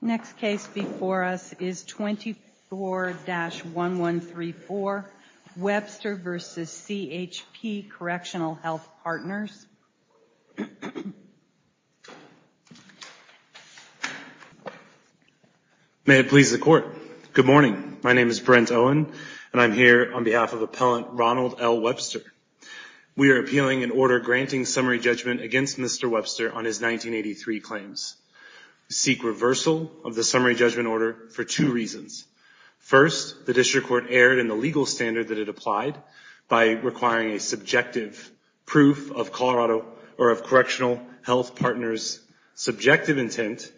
Next case before us is 24-1134, Webster v. CHP Correctional Health Partners. May it please the Court. Good morning. My name is Brent Owen, and I'm here on behalf of Appellant Ronald L. Webster. We are appealing an order granting summary judgment against Mr. Webster on his 1983 claims. We seek reversal of the summary judgment order for two reasons. First, the district court erred in the legal standard that it applied by requiring a subjective proof of Colorado or of Correctional Health Partners' subjective intent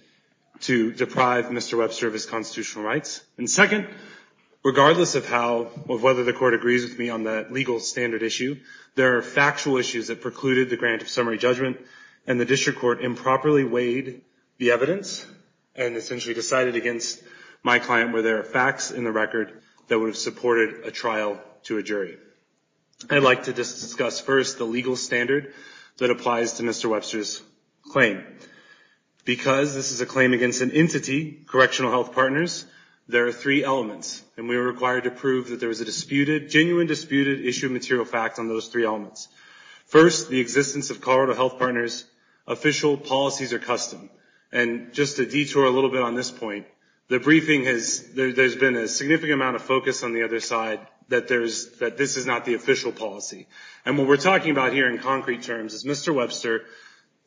to deprive Mr. Webster of his constitutional rights. And second, regardless of whether the Court agrees with me on the legal standard issue, there are factual issues that precluded the grant of summary judgment, and the district court improperly weighed the evidence and essentially decided against my client where there are facts in the record that would have supported a trial to a jury. I'd like to just discuss first the legal standard that applies to Mr. Webster's claim. Because this is a claim against an entity, Correctional Health Partners, there are three elements, and we are required to prove that there was a disputed, genuine disputed issue of material facts on those three elements. First, the existence of Colorado Health Partners' official policies or custom. And just to detour a little bit on this point, the briefing has, there's been a significant amount of focus on the other side that there's, that this is not the official policy. And what we're talking about here in concrete terms is Mr. Webster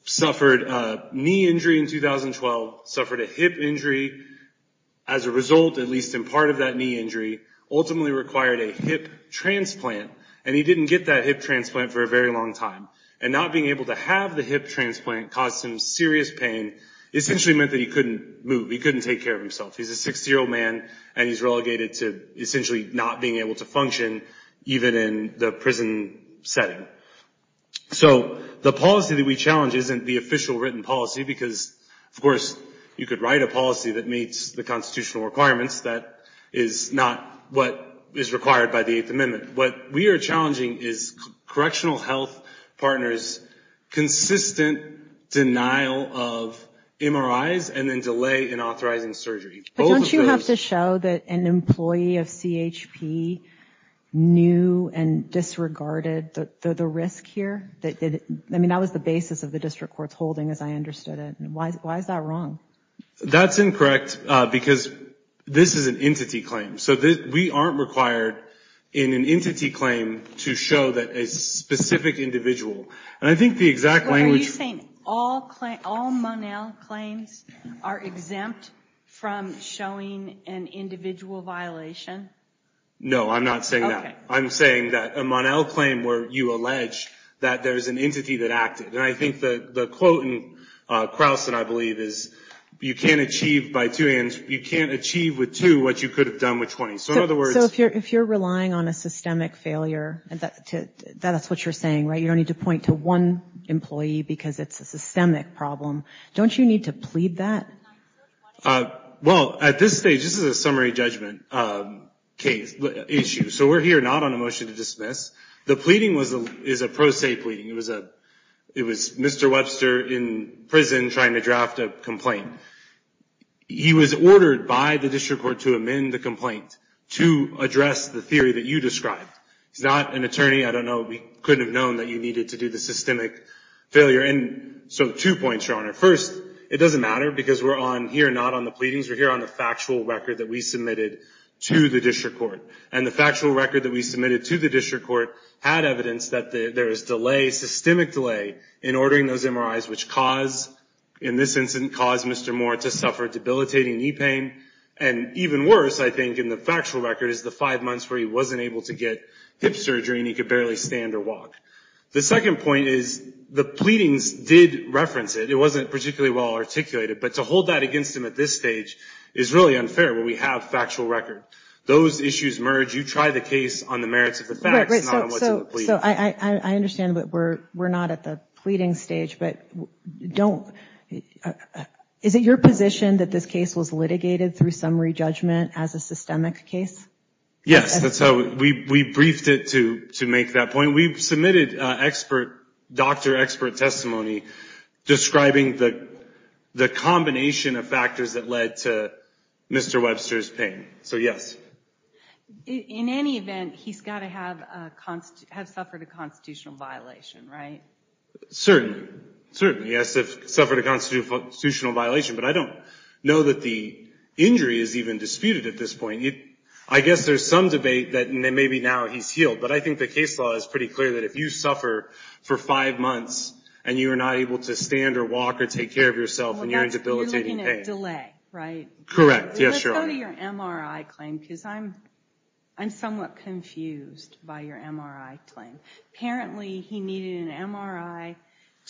suffered a knee injury in 2012, suffered a hip injury as a result, at least in part of that knee injury, ultimately required a hip transplant. And he didn't get that hip transplant for a very long time. And not being able to have the hip transplant caused him serious pain, essentially meant that he couldn't move. He couldn't take care of himself. He's a 60-year-old man, and he's relegated to essentially not being able to function, even in the prison setting. So the policy that we challenge isn't the official written policy, because, of course, you could write a policy that meets the constitutional requirements. That is not what is required by the Eighth Amendment. What we are challenging is Correctional Health Partners' consistent denial of MRIs and then delay in authorizing surgery. But don't you have to show that an employee of CHP knew and disregarded the risk here? I mean, that was the basis of the district court's holding, as I understood it. Why is that wrong? That's incorrect, because this is an entity claim. So we aren't required in an entity claim to show that a specific individual. And I think the exact language... All Monell claims are exempt from showing an individual violation? No, I'm not saying that. I'm saying that a Monell claim where you allege that there's an entity that acted. And I think the quote in Krausen, I believe, is you can't achieve with two what you could have done with 20. So in other words... So if you're relying on a systemic failure, that's what you're saying, right? You don't need to point to one employee because it's a systemic problem. Don't you need to plead that? Well, at this stage, this is a summary judgment issue. So we're here not on a motion to dismiss. The pleading is a pro se pleading. It was Mr. Webster in prison trying to draft a complaint. He was ordered by the district court to amend the complaint to address the theory that you described. He's not an attorney. I don't know. We couldn't have known that you needed to do the systemic failure. So two points, Your Honor. First, it doesn't matter because we're on here not on the pleadings. We're here on the factual record that we submitted to the district court. And the factual record that we submitted to the district court had evidence that there is delay, systemic delay, in ordering those MRIs which cause, in this instance, cause Mr. Moore to suffer debilitating knee pain. And even worse, I think, in the factual record is the five months where he wasn't able to get hip surgery and he could barely stand or walk. The second point is the pleadings did reference it. It wasn't particularly well articulated. But to hold that against him at this stage is really unfair when we have factual record. Those issues merge. You try the case on the merits of the facts, not on what's in the plea. So I understand that we're not at the pleading stage, but don't. Is it your position that this case was litigated through summary judgment as a systemic case? Yes, that's how we briefed it to make that point. We submitted expert, doctor expert testimony describing the combination of factors that led to Mr. Webster's pain. So, yes. In any event, he's got to have suffered a constitutional violation, right? Certainly, certainly. He has to have suffered a constitutional violation. But I don't know that the injury is even disputed at this point. I guess there's some debate that maybe now he's healed, but I think the case law is pretty clear that if you suffer for five months and you are not able to stand or walk or take care of yourself and you're in debilitating pain. You're looking at delay, right? Correct. Yes, Your Honor. Let's go to your MRI claim because I'm somewhat confused by your MRI claim. Apparently, he needed an MRI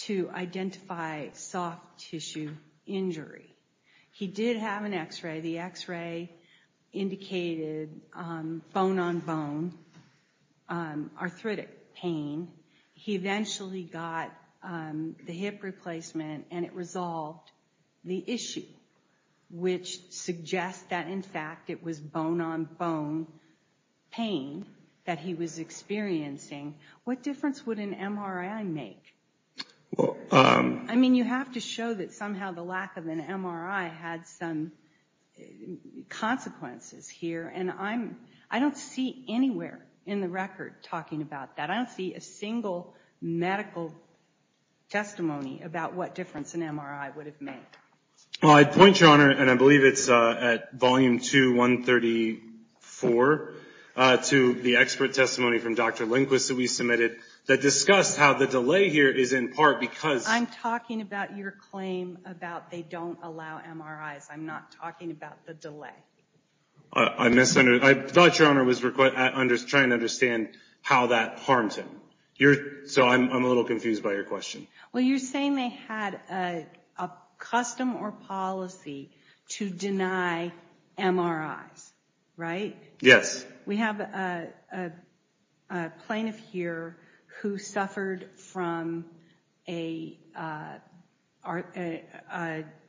to identify soft tissue injury. He did have an x-ray. The x-ray indicated bone-on-bone arthritic pain. He eventually got the hip replacement and it resolved the issue, which suggests that, in fact, it was bone-on-bone pain that he was experiencing. What difference would an MRI make? I mean, you have to show that somehow the lack of an MRI had some consequences here, and I don't see anywhere in the record talking about that. I don't see a single medical testimony about what difference an MRI would have made. I'd point, Your Honor, and I believe it's at Volume 2, 134, to the expert testimony from Dr. Lindquist that we submitted that discussed how the delay here is in part because— I'm talking about your claim about they don't allow MRIs. I'm not talking about the delay. I thought, Your Honor, I was trying to understand how that harms him. So I'm a little confused by your question. Well, you're saying they had a custom or policy to deny MRIs, right? Yes. We have a plaintiff here who suffered from a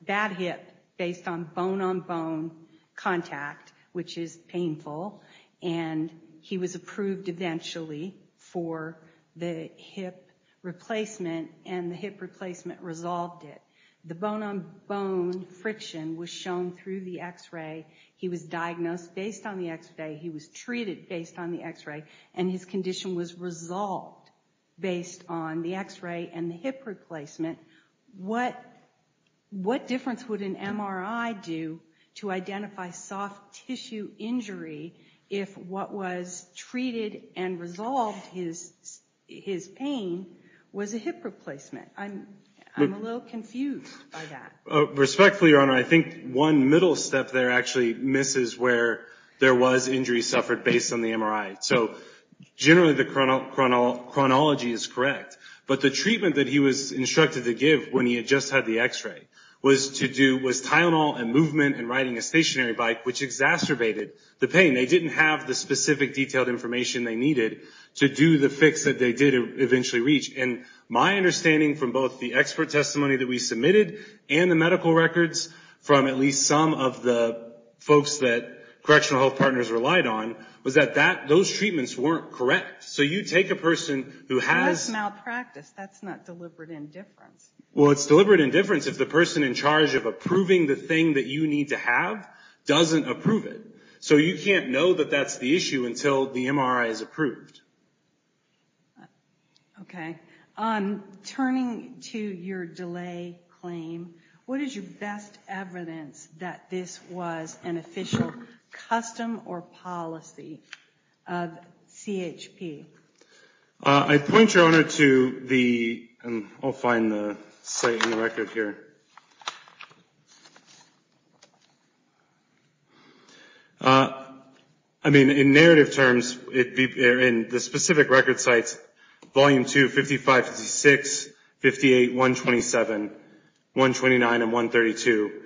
bad hip based on bone-on-bone contact, which is painful, and he was approved eventually for the hip replacement, and the hip replacement resolved it. The bone-on-bone friction was shown through the X-ray. He was diagnosed based on the X-ray. He was treated based on the X-ray, and his condition was resolved based on the X-ray and the hip replacement. What difference would an MRI do to identify soft tissue injury if what was treated and resolved his pain was a hip replacement? I'm a little confused by that. Respectfully, Your Honor, I think one middle step there actually misses where there was injury suffered based on the MRI. So generally the chronology is correct, but the treatment that he was instructed to give when he had just had the X-ray was Tylenol and movement and riding a stationary bike, which exacerbated the pain. They didn't have the specific detailed information they needed to do the fix that they did eventually reach. My understanding from both the expert testimony that we submitted and the medical records from at least some of the folks that Correctional Health Partners relied on was that those treatments weren't correct. So you take a person who has... That's malpractice. That's not deliberate indifference. Well, it's deliberate indifference if the person in charge of approving the thing that you need to have doesn't approve it. So you can't know that that's the issue until the MRI is approved. Okay. Turning to your delay claim, what is your best evidence that this was an official custom or policy of CHP? I point, Your Honor, to the... I'll find the site and the record here. I mean, in narrative terms, in the specific record sites, Volume 2, 55-56, 58-127, 129, and 132.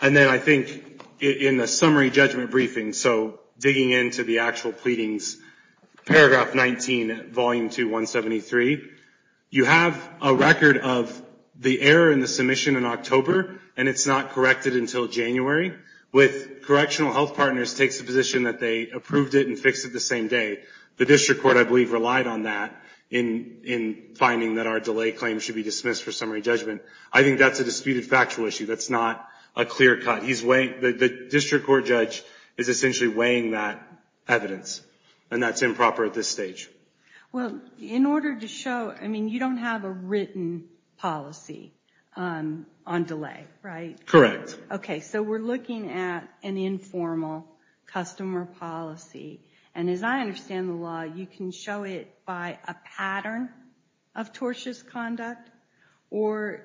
And then I think in the summary judgment briefing, so digging into the actual pleadings, Paragraph 19, Volume 2, 173, you have a record of the error in the submission and occupation of the treatment. And it's not corrected until January. With correctional health partners takes a position that they approved it and fixed it the same day. The district court, I believe, relied on that in finding that our delay claim should be dismissed for summary judgment. I think that's a disputed factual issue. That's not a clear cut. The district court judge is essentially weighing that evidence, and that's improper at this stage. Well, in order to show... I mean, you don't have a written policy on delay, right? Correct. Okay, so we're looking at an informal customer policy. And as I understand the law, you can show it by a pattern of tortious conduct, or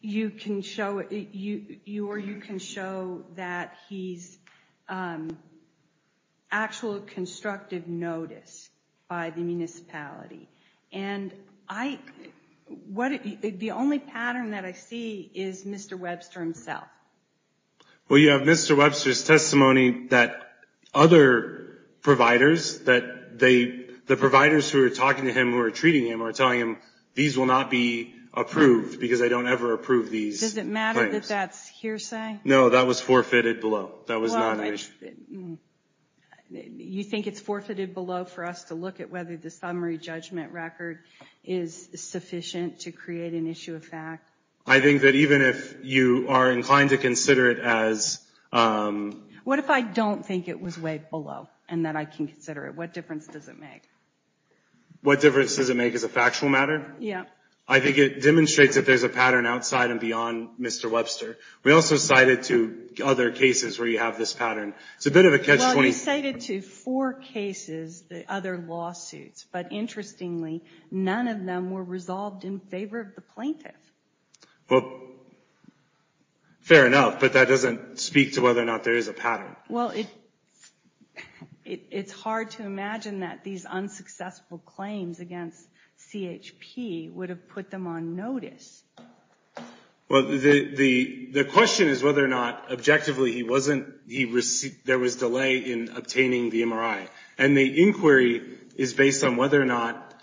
you can show that he's actual constructive notice by the municipality. And the only pattern that I see is Mr. Webster himself. Well, you have Mr. Webster's testimony that other providers, that the providers who are talking to him, who are treating him, are telling him these will not be approved because they don't ever approve these. Does it matter that that's hearsay? No, that was forfeited below. That was not... You think it's forfeited below for us to look at whether the summary judgment record is sufficient to create an issue of fact? I think that even if you are inclined to consider it as... What if I don't think it was way below and that I can consider it? What difference does it make? What difference does it make as a factual matter? Yeah. I think it demonstrates that there's a pattern outside and beyond Mr. Webster. We also cited to other cases where you have this pattern. It's a bit of a catch-22. Well, you cited to four cases the other lawsuits, but interestingly none of them were resolved in favor of the plaintiff. Well, fair enough, but that doesn't speak to whether or not there is a pattern. Well, it's hard to imagine that these unsuccessful claims against CHP would have put them on notice. Well, the question is whether or not objectively there was delay in obtaining the MRI. And the inquiry is based on whether or not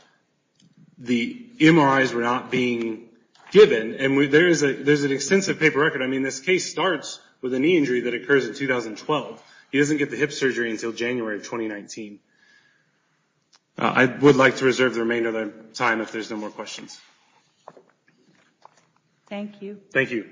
the MRIs were not being given. And there's an extensive paper record. I mean, this case starts with a knee injury that occurs in 2012. He doesn't get the hip surgery until January of 2019. I would like to reserve the remainder of the time if there's no more questions. Thank you. Thank you.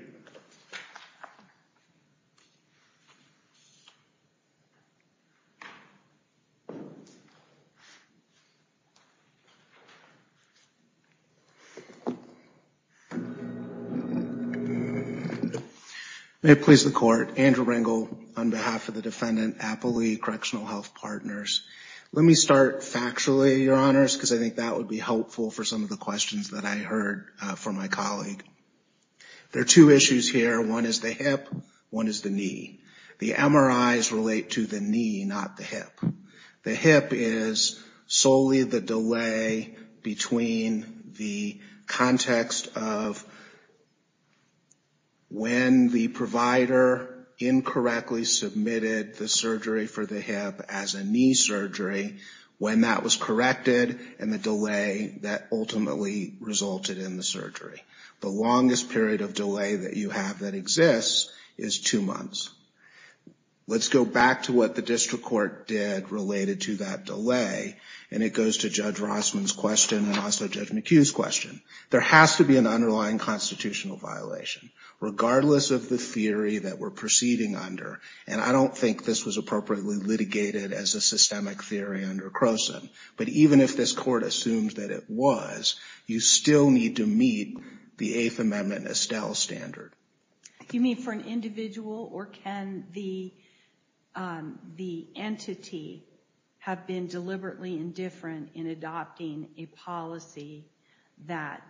May it please the Court. Andrew Ringel on behalf of the defendant, Appley Correctional Health Partners. Let me start factually, Your Honors, because I think that would be helpful for some of the questions that I heard from my colleague. There are two issues here. One is the hip. One is the knee. The MRIs relate to the knee, not the hip. The hip is solely the delay between the context of when the provider incorrectly submitted the surgery for the hip as a knee surgery, when that was corrected, and the delay that ultimately resulted in the surgery. The longest period of delay that you have that exists is two months. Let's go back to what the district court did related to that delay, and it goes to Judge Rossman's question and also Judge McHugh's question. There has to be an underlying constitutional violation, regardless of the theory that we're proceeding under. And I don't think this was appropriately litigated as a systemic theory under you still need to meet the Eighth Amendment Estelle standard. Do you mean for an individual, or can the entity have been deliberately indifferent in adopting a policy that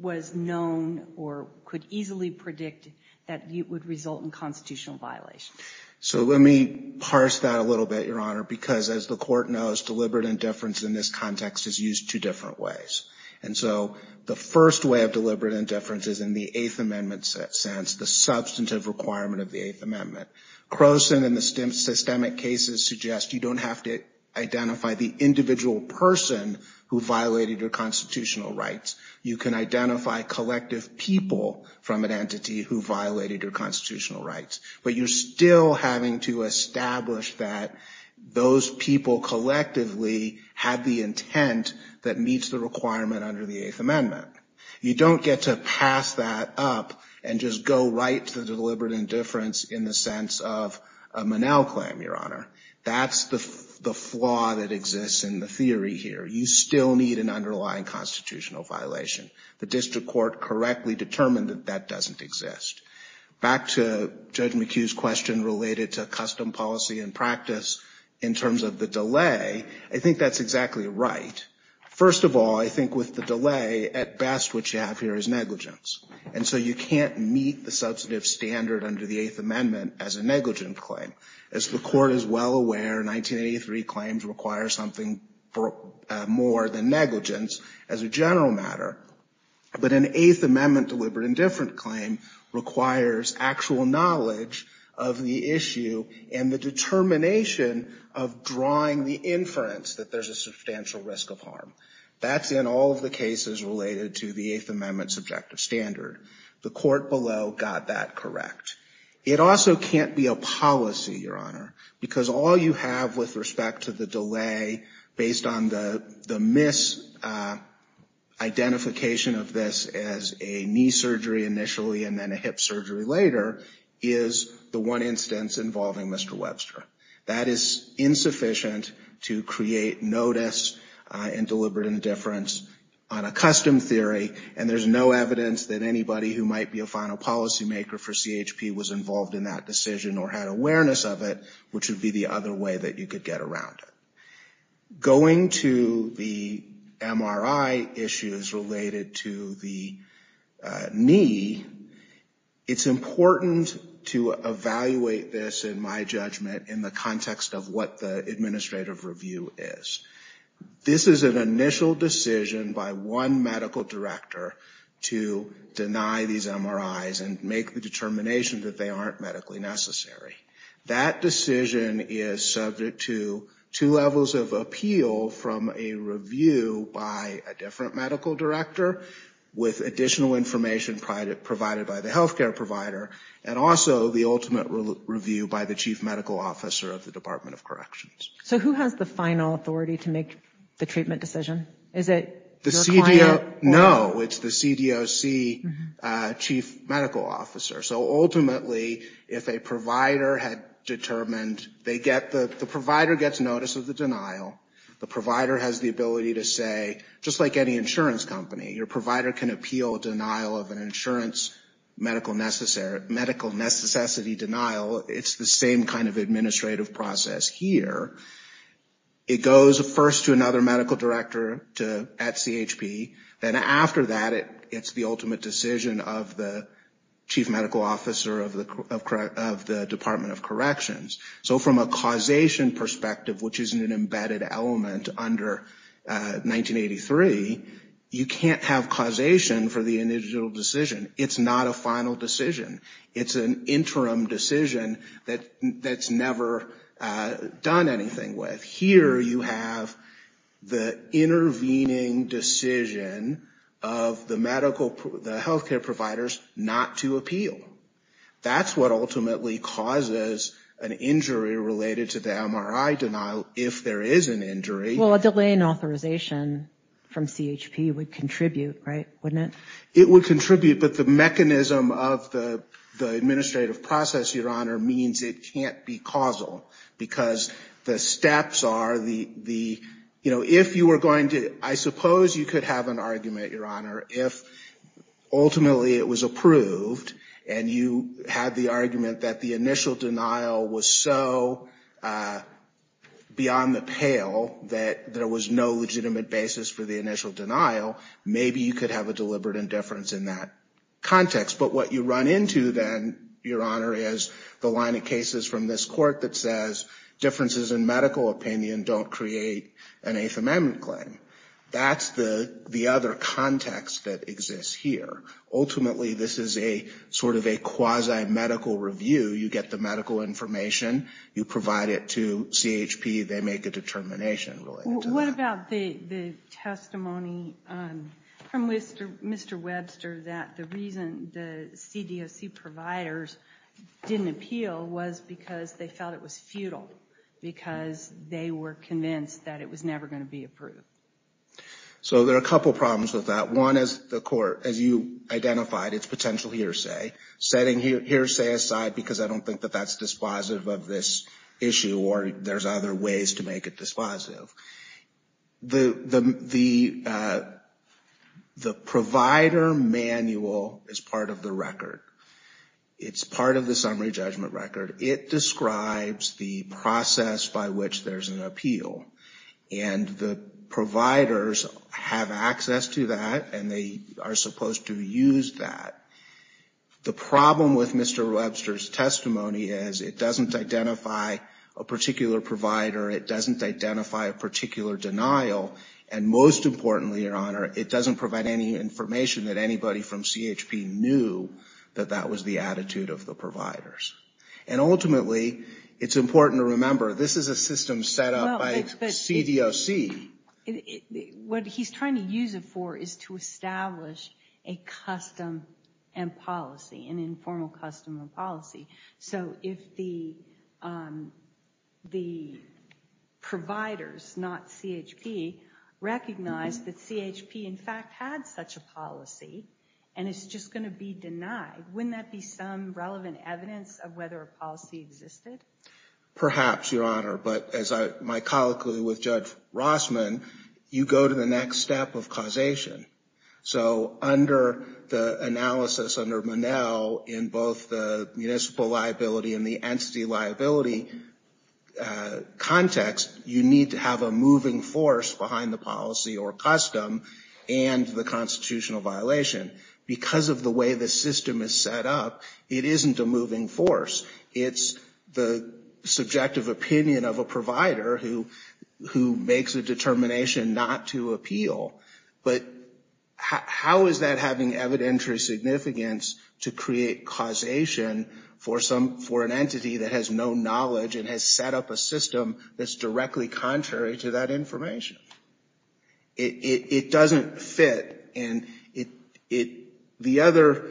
was known or could easily predict that it would result in constitutional violation? So let me parse that a little bit, Your Honor, because as the court knows, deliberate indifference in this context is used two different ways. And so the first way of deliberate indifference is in the Eighth Amendment sense, the substantive requirement of the Eighth Amendment. Croson and the systemic cases suggest you don't have to identify the individual person who violated your constitutional rights. You can identify collective people from an entity who violated your constitutional rights, but you're still having to establish that those people collectively had the intent that meets the requirement under the Eighth Amendment. You don't get to pass that up and just go right to the deliberate indifference in the sense of a Monell claim, Your Honor. That's the flaw that exists in the theory here. You still need an underlying constitutional violation. The district court correctly determined that that doesn't exist. Back to Judge McHugh's question related to custom policy and practice in terms of the delay, I think that's exactly right. First of all, I think with the delay, at best, what you have here is negligence. And so you can't meet the substantive standard under the Eighth Amendment as a negligent claim. As the court is well aware, 1983 claims require something more than negligence as a general matter. But an Eighth Amendment deliberate indifference claim requires actual knowledge of the issue and the determination of drawing the inference that there's a substantial risk of harm. That's in all of the cases related to the Eighth Amendment subjective standard. The court below got that correct. It also can't be a policy, Your Honor, because all you have with respect to the delay based on the misidentification of this as a knee surgery initially and then a hip surgery later is the one instance involving Mr. Webster. That is insufficient to create notice and deliberate indifference on a custom theory. And there's no evidence that anybody who might be a final policymaker for CHP was involved in that decision or had awareness of it, which would be the other way that you could get around it. Going to the MRI issues related to the knee, it's important to evaluate this in my judgment in the context of what the administrative review is. This is an initial decision by one medical director to deny these MRIs and make the determination that they aren't medically necessary. That decision is subject to two levels of appeal from a review by a different medical director with additional information provided by the healthcare provider and also the ultimate review by the chief medical officer of the Department of Corrections. So who has the final authority to make the treatment decision? Is it your client? No, it's the CDOC chief medical officer. So ultimately if a provider had determined they get the, the provider gets notice of the denial, the provider has the ability to say just like any insurance company, your provider can appeal denial of an insurance medical necessary medical necessity denial. It's the same kind of administrative process here. It goes first to another medical director to at CHP. Then after that it's the ultimate decision of the chief medical officer of the Department of Corrections. So from a causation perspective, which is an embedded element under 1983, you can't have causation for the initial decision. It's not a final decision. It's an interim decision that's never done anything with. Here you have the intervening decision of the medical, the healthcare providers not to appeal. That's what ultimately causes an injury related to the MRI denial. If there is an injury. Well, a delay in authorization from CHP would contribute, right? Wouldn't it? It would contribute, but the mechanism of the administrative process, your honor means it can't be causal because the steps are the, you know, if you were going to, I suppose you could have an argument, your honor, if ultimately it was approved and you had the argument that the initial denial was so beyond the pale that there was no legitimate basis for the initial denial. Maybe you could have a deliberate indifference in that context. But what you run into then, your honor is the line of cases from this court that says differences in medical opinion, don't create an eighth amendment claim. That's the, the other context that exists here. Ultimately, this is a sort of a quasi medical review. You get the medical information, you provide it to CHP. They make a determination. What about the, the testimony from Mr. Webster that the reason the CDOC providers didn't appeal was because they felt it was futile because they were convinced that it was never going to be approved. So there are a couple of problems with that. One is the court, as you identified, it's potential hearsay setting hearsay aside, because I don't think that that's dispositive of this issue or there's other ways to make it dispositive. The, the, the provider manual is part of the record. It's part of the summary judgment record. It describes the process by which there's an appeal and the providers have access to that and they are supposed to use that. The problem with Mr. Webster's testimony is it doesn't identify a particular provider. It doesn't identify a particular denial. And most importantly, your honor, it doesn't provide any information that anybody from CHP knew that that was the attitude of the providers. And ultimately it's important to remember, this is a system set up by CDOC. What he's trying to use it for is to establish a custom and policy, an informal custom and policy. So if the, the providers, not CHP, recognize that CHP in fact had such a policy and it's just going to be denied, wouldn't that be some relevant evidence of whether a policy existed? Perhaps, your honor. But as I, my colloquy with Judge Rossman, you go to the next step of causation. So under the analysis, under Monell in both the municipal liability and the entity liability context, you need to have a moving force behind the policy or custom and the constitutional violation. Because of the way the system is set up, it isn't a moving force. It's the subjective opinion of a provider who, who makes a determination not to appeal. But how is that having evidentiary significance to create causation for some, for an entity that has no knowledge and has set up a system that's directly contrary to that information? It, it doesn't fit. And it, it, the other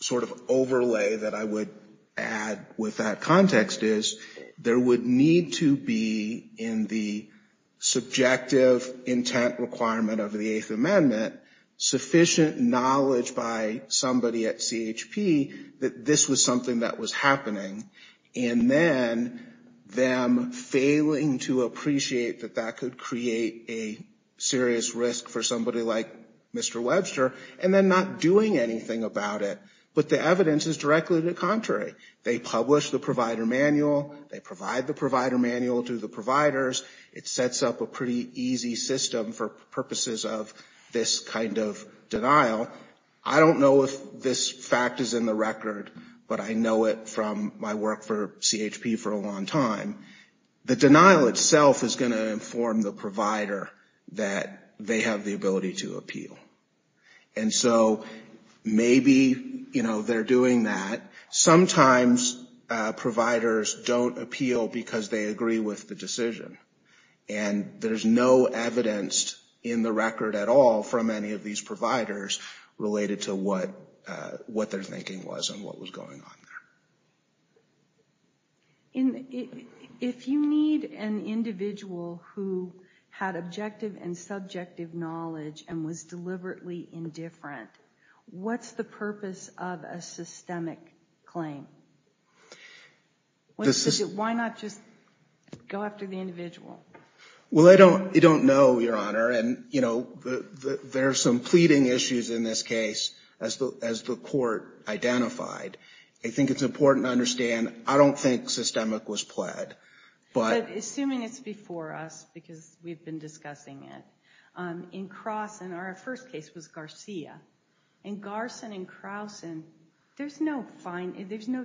sort of overlay that I would add with that context is there would need to be in the subjective intent, requirement of the eighth amendment, sufficient knowledge by somebody at CHP that this was something that was happening. And then them failing to appreciate that that could create a serious risk for somebody like Mr. Webster, and then not doing anything about it. But the evidence is directly to the contrary. They publish the provider manual, they provide the provider manual to the providers. It sets up a pretty easy system for purposes of this kind of denial. I don't know if this fact is in the record, but I know it from my work for CHP for a long time. The denial itself is going to inform the provider that they have the ability to appeal. And so maybe, you know, they're doing that. Sometimes providers don't appeal because they agree with the decision. And there's no evidence in the record at all from any of these providers related to what their thinking was and what was going on there. If you need an individual who had objective and subjective knowledge and was deliberately indifferent, what's the purpose of a systemic claim? Why not just go after the individual? Well, I don't know, Your Honor. And, you know, there are some pleading issues in this case, as the court identified. I think it's important to understand, I don't think systemic was pled. Assuming it's before us, because we've been discussing it. In Carson, our first case was Garcia. In Carson and in Carson, there's no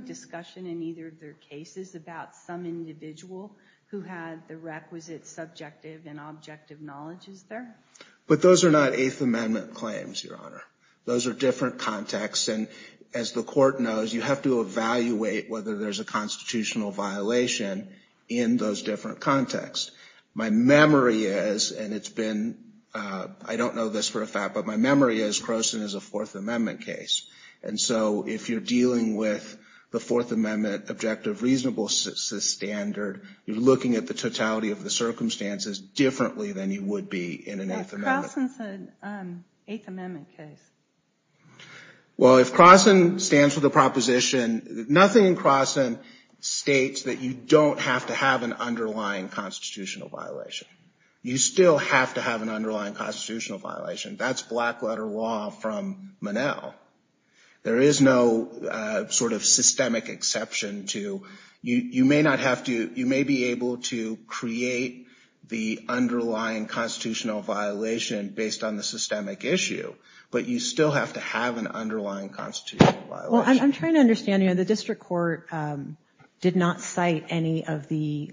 discussion in either of their cases about some individual who had the requisite subjective and objective knowledge, is there? But those are not Eighth Amendment claims, Your Honor. Those are different contexts. And as the court knows, you have to evaluate whether there's a constitutional violation in those different contexts. My memory is, and it's been, I don't know this for a fact, but my memory is Carson is a Fourth Amendment case. And so, if you're dealing with the Fourth Amendment objective reasonable standard, you're looking at the totality of the circumstances differently than you would be in an Eighth Amendment. But Carson's an Eighth Amendment case. Well, if Carson stands for the proposition, nothing in Carson states that you don't have to have an underlying constitutional violation. You still have to have an underlying constitutional violation. That's black letter law from Monell. There is no sort of systemic exception to, you may not have to, you may be able to create the underlying constitutional violation based on the systemic issue, but you still have to have an underlying constitutional violation. Well, I'm trying to understand, you know, the district court did not cite any of the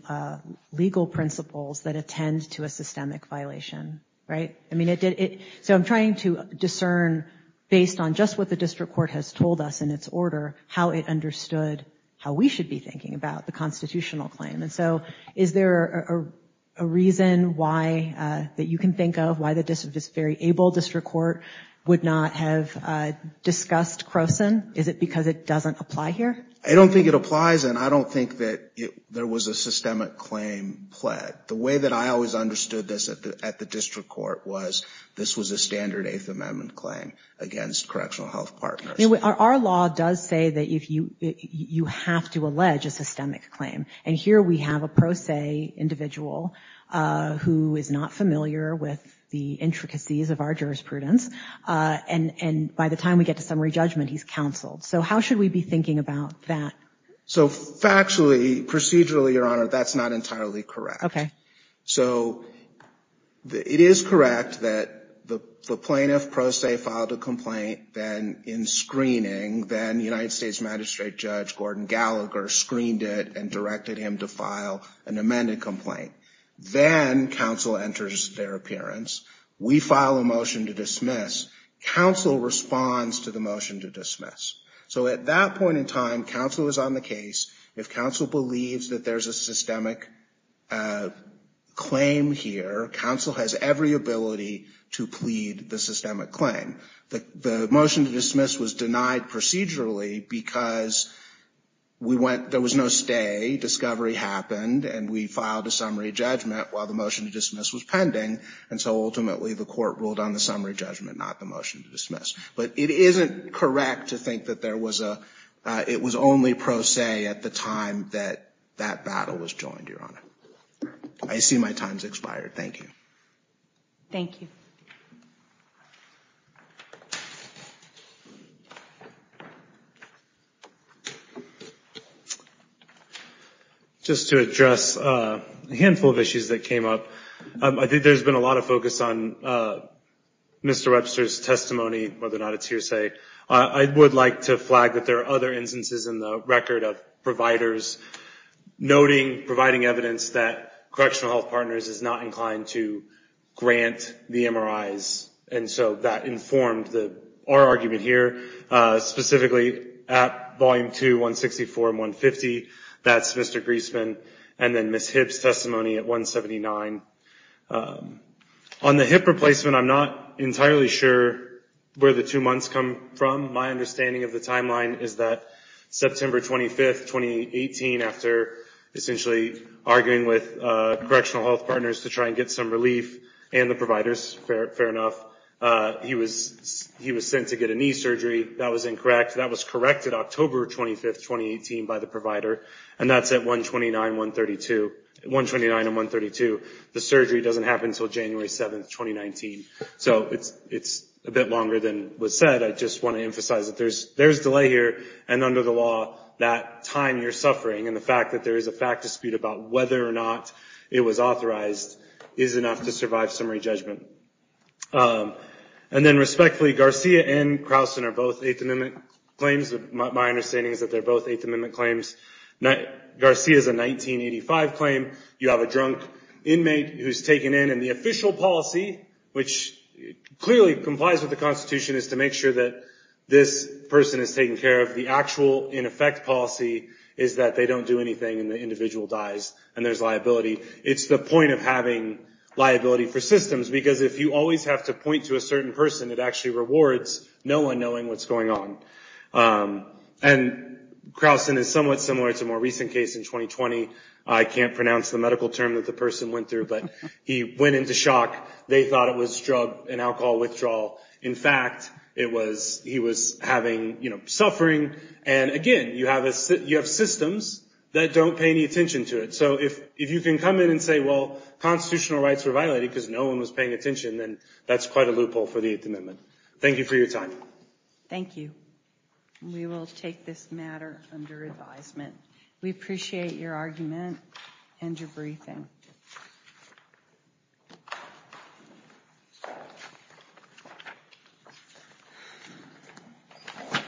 legal principles that attend to a systemic violation, right? I mean, so I'm trying to discern based on just what the district court has told us in its order, how it understood how we should be thinking about the constitutional claim. And so, is there a reason why that you can think of why the district is very able district court would not have discussed Croson? Is it because it doesn't apply here? I don't think it applies. And I don't think that there was a systemic claim pled. The way that I always understood this at the, at the district court was this was a standard eighth amendment claim against correctional health partners. Our law does say that if you, you have to allege a systemic claim. And here we have a pro se individual who is not familiar with the intricacies of our jurisprudence. And, and by the time we get to summary judgment, he's counseled. So how should we be thinking about that? So factually procedurally, that's not entirely correct. Okay. So the, it is correct that the plaintiff pro se filed a complaint. Then in screening, then United States magistrate judge Gordon Gallagher screened it and directed him to file an amended complaint. Then council enters their appearance. We file a motion to dismiss council responds to the motion to dismiss. So at that point in time, council was on the case. If council believes that there's a systemic claim here, council has every ability to plead the systemic claim. The, the motion to dismiss was denied procedurally because we went, there was no stay discovery happened and we filed a summary judgment while the motion to dismiss was pending. And so ultimately the court ruled on the summary judgment, not the motion to dismiss, but it isn't correct to think that there was a, it was only pro se at the time that that battle was joined. Your Honor. I see my time's expired. Thank you. Thank you. Just to address a handful of issues that came up. I think there's been a lot of focus on Mr. Webster's testimony, whether or not it's hearsay. I would like to flag that there are other instances in the record of providers noting, providing evidence that correctional health partners is not inclined to grant the MRIs. And so that informed the, our argument here specifically at volume two, one 64 and one 50 that's Mr. Griesman and then Ms. Hibbs testimony at one 79 on the hip replacement. I'm not entirely sure where the two months come from. My understanding of the timeline is that September 25th, 2018 after essentially arguing with correctional health partners to try and get some relief and the providers fair, fair enough. He was, he was sent to get a knee surgery that was incorrect. That was corrected October 25th, 2018 by the provider and that's at one 29, one 32, one 29 and one 32. The surgery doesn't happen until January 7th, 2019. So it's, it's a bit longer than what's said. I just want to emphasize that there's, there's delay here. And under the law, that time you're suffering and the fact that there is a fact dispute about whether or not it was authorized is enough to survive summary judgment. And then respectfully, Garcia and Crowson are both eighth amendment claims. My understanding is that they're both eighth amendment claims. Garcia is a 1985 claim. You have a drunk inmate who's taken in and the official policy, which clearly complies with the constitution is to make sure that this person has taken care of the actual in effect policy is that they don't do anything and the individual dies and there's liability. It's the point of having liability for systems, because if you always have to point to a certain person, it actually rewards no one knowing what's going on. And Crowson is somewhat similar to more recent case in 2020. I can't pronounce the medical term that the person went through, but he went into shock. They thought it was drug and alcohol withdrawal. In fact, it was, he was having, you know, suffering. And again, you have a, you have systems that don't pay any attention to it. So if, if you can come in and say, well, constitutional rights were violated because no one was paying attention, then that's quite a loophole for the eighth amendment. Thank you for your time. Thank you. We will take this matter under advisement. We appreciate your argument and your briefing.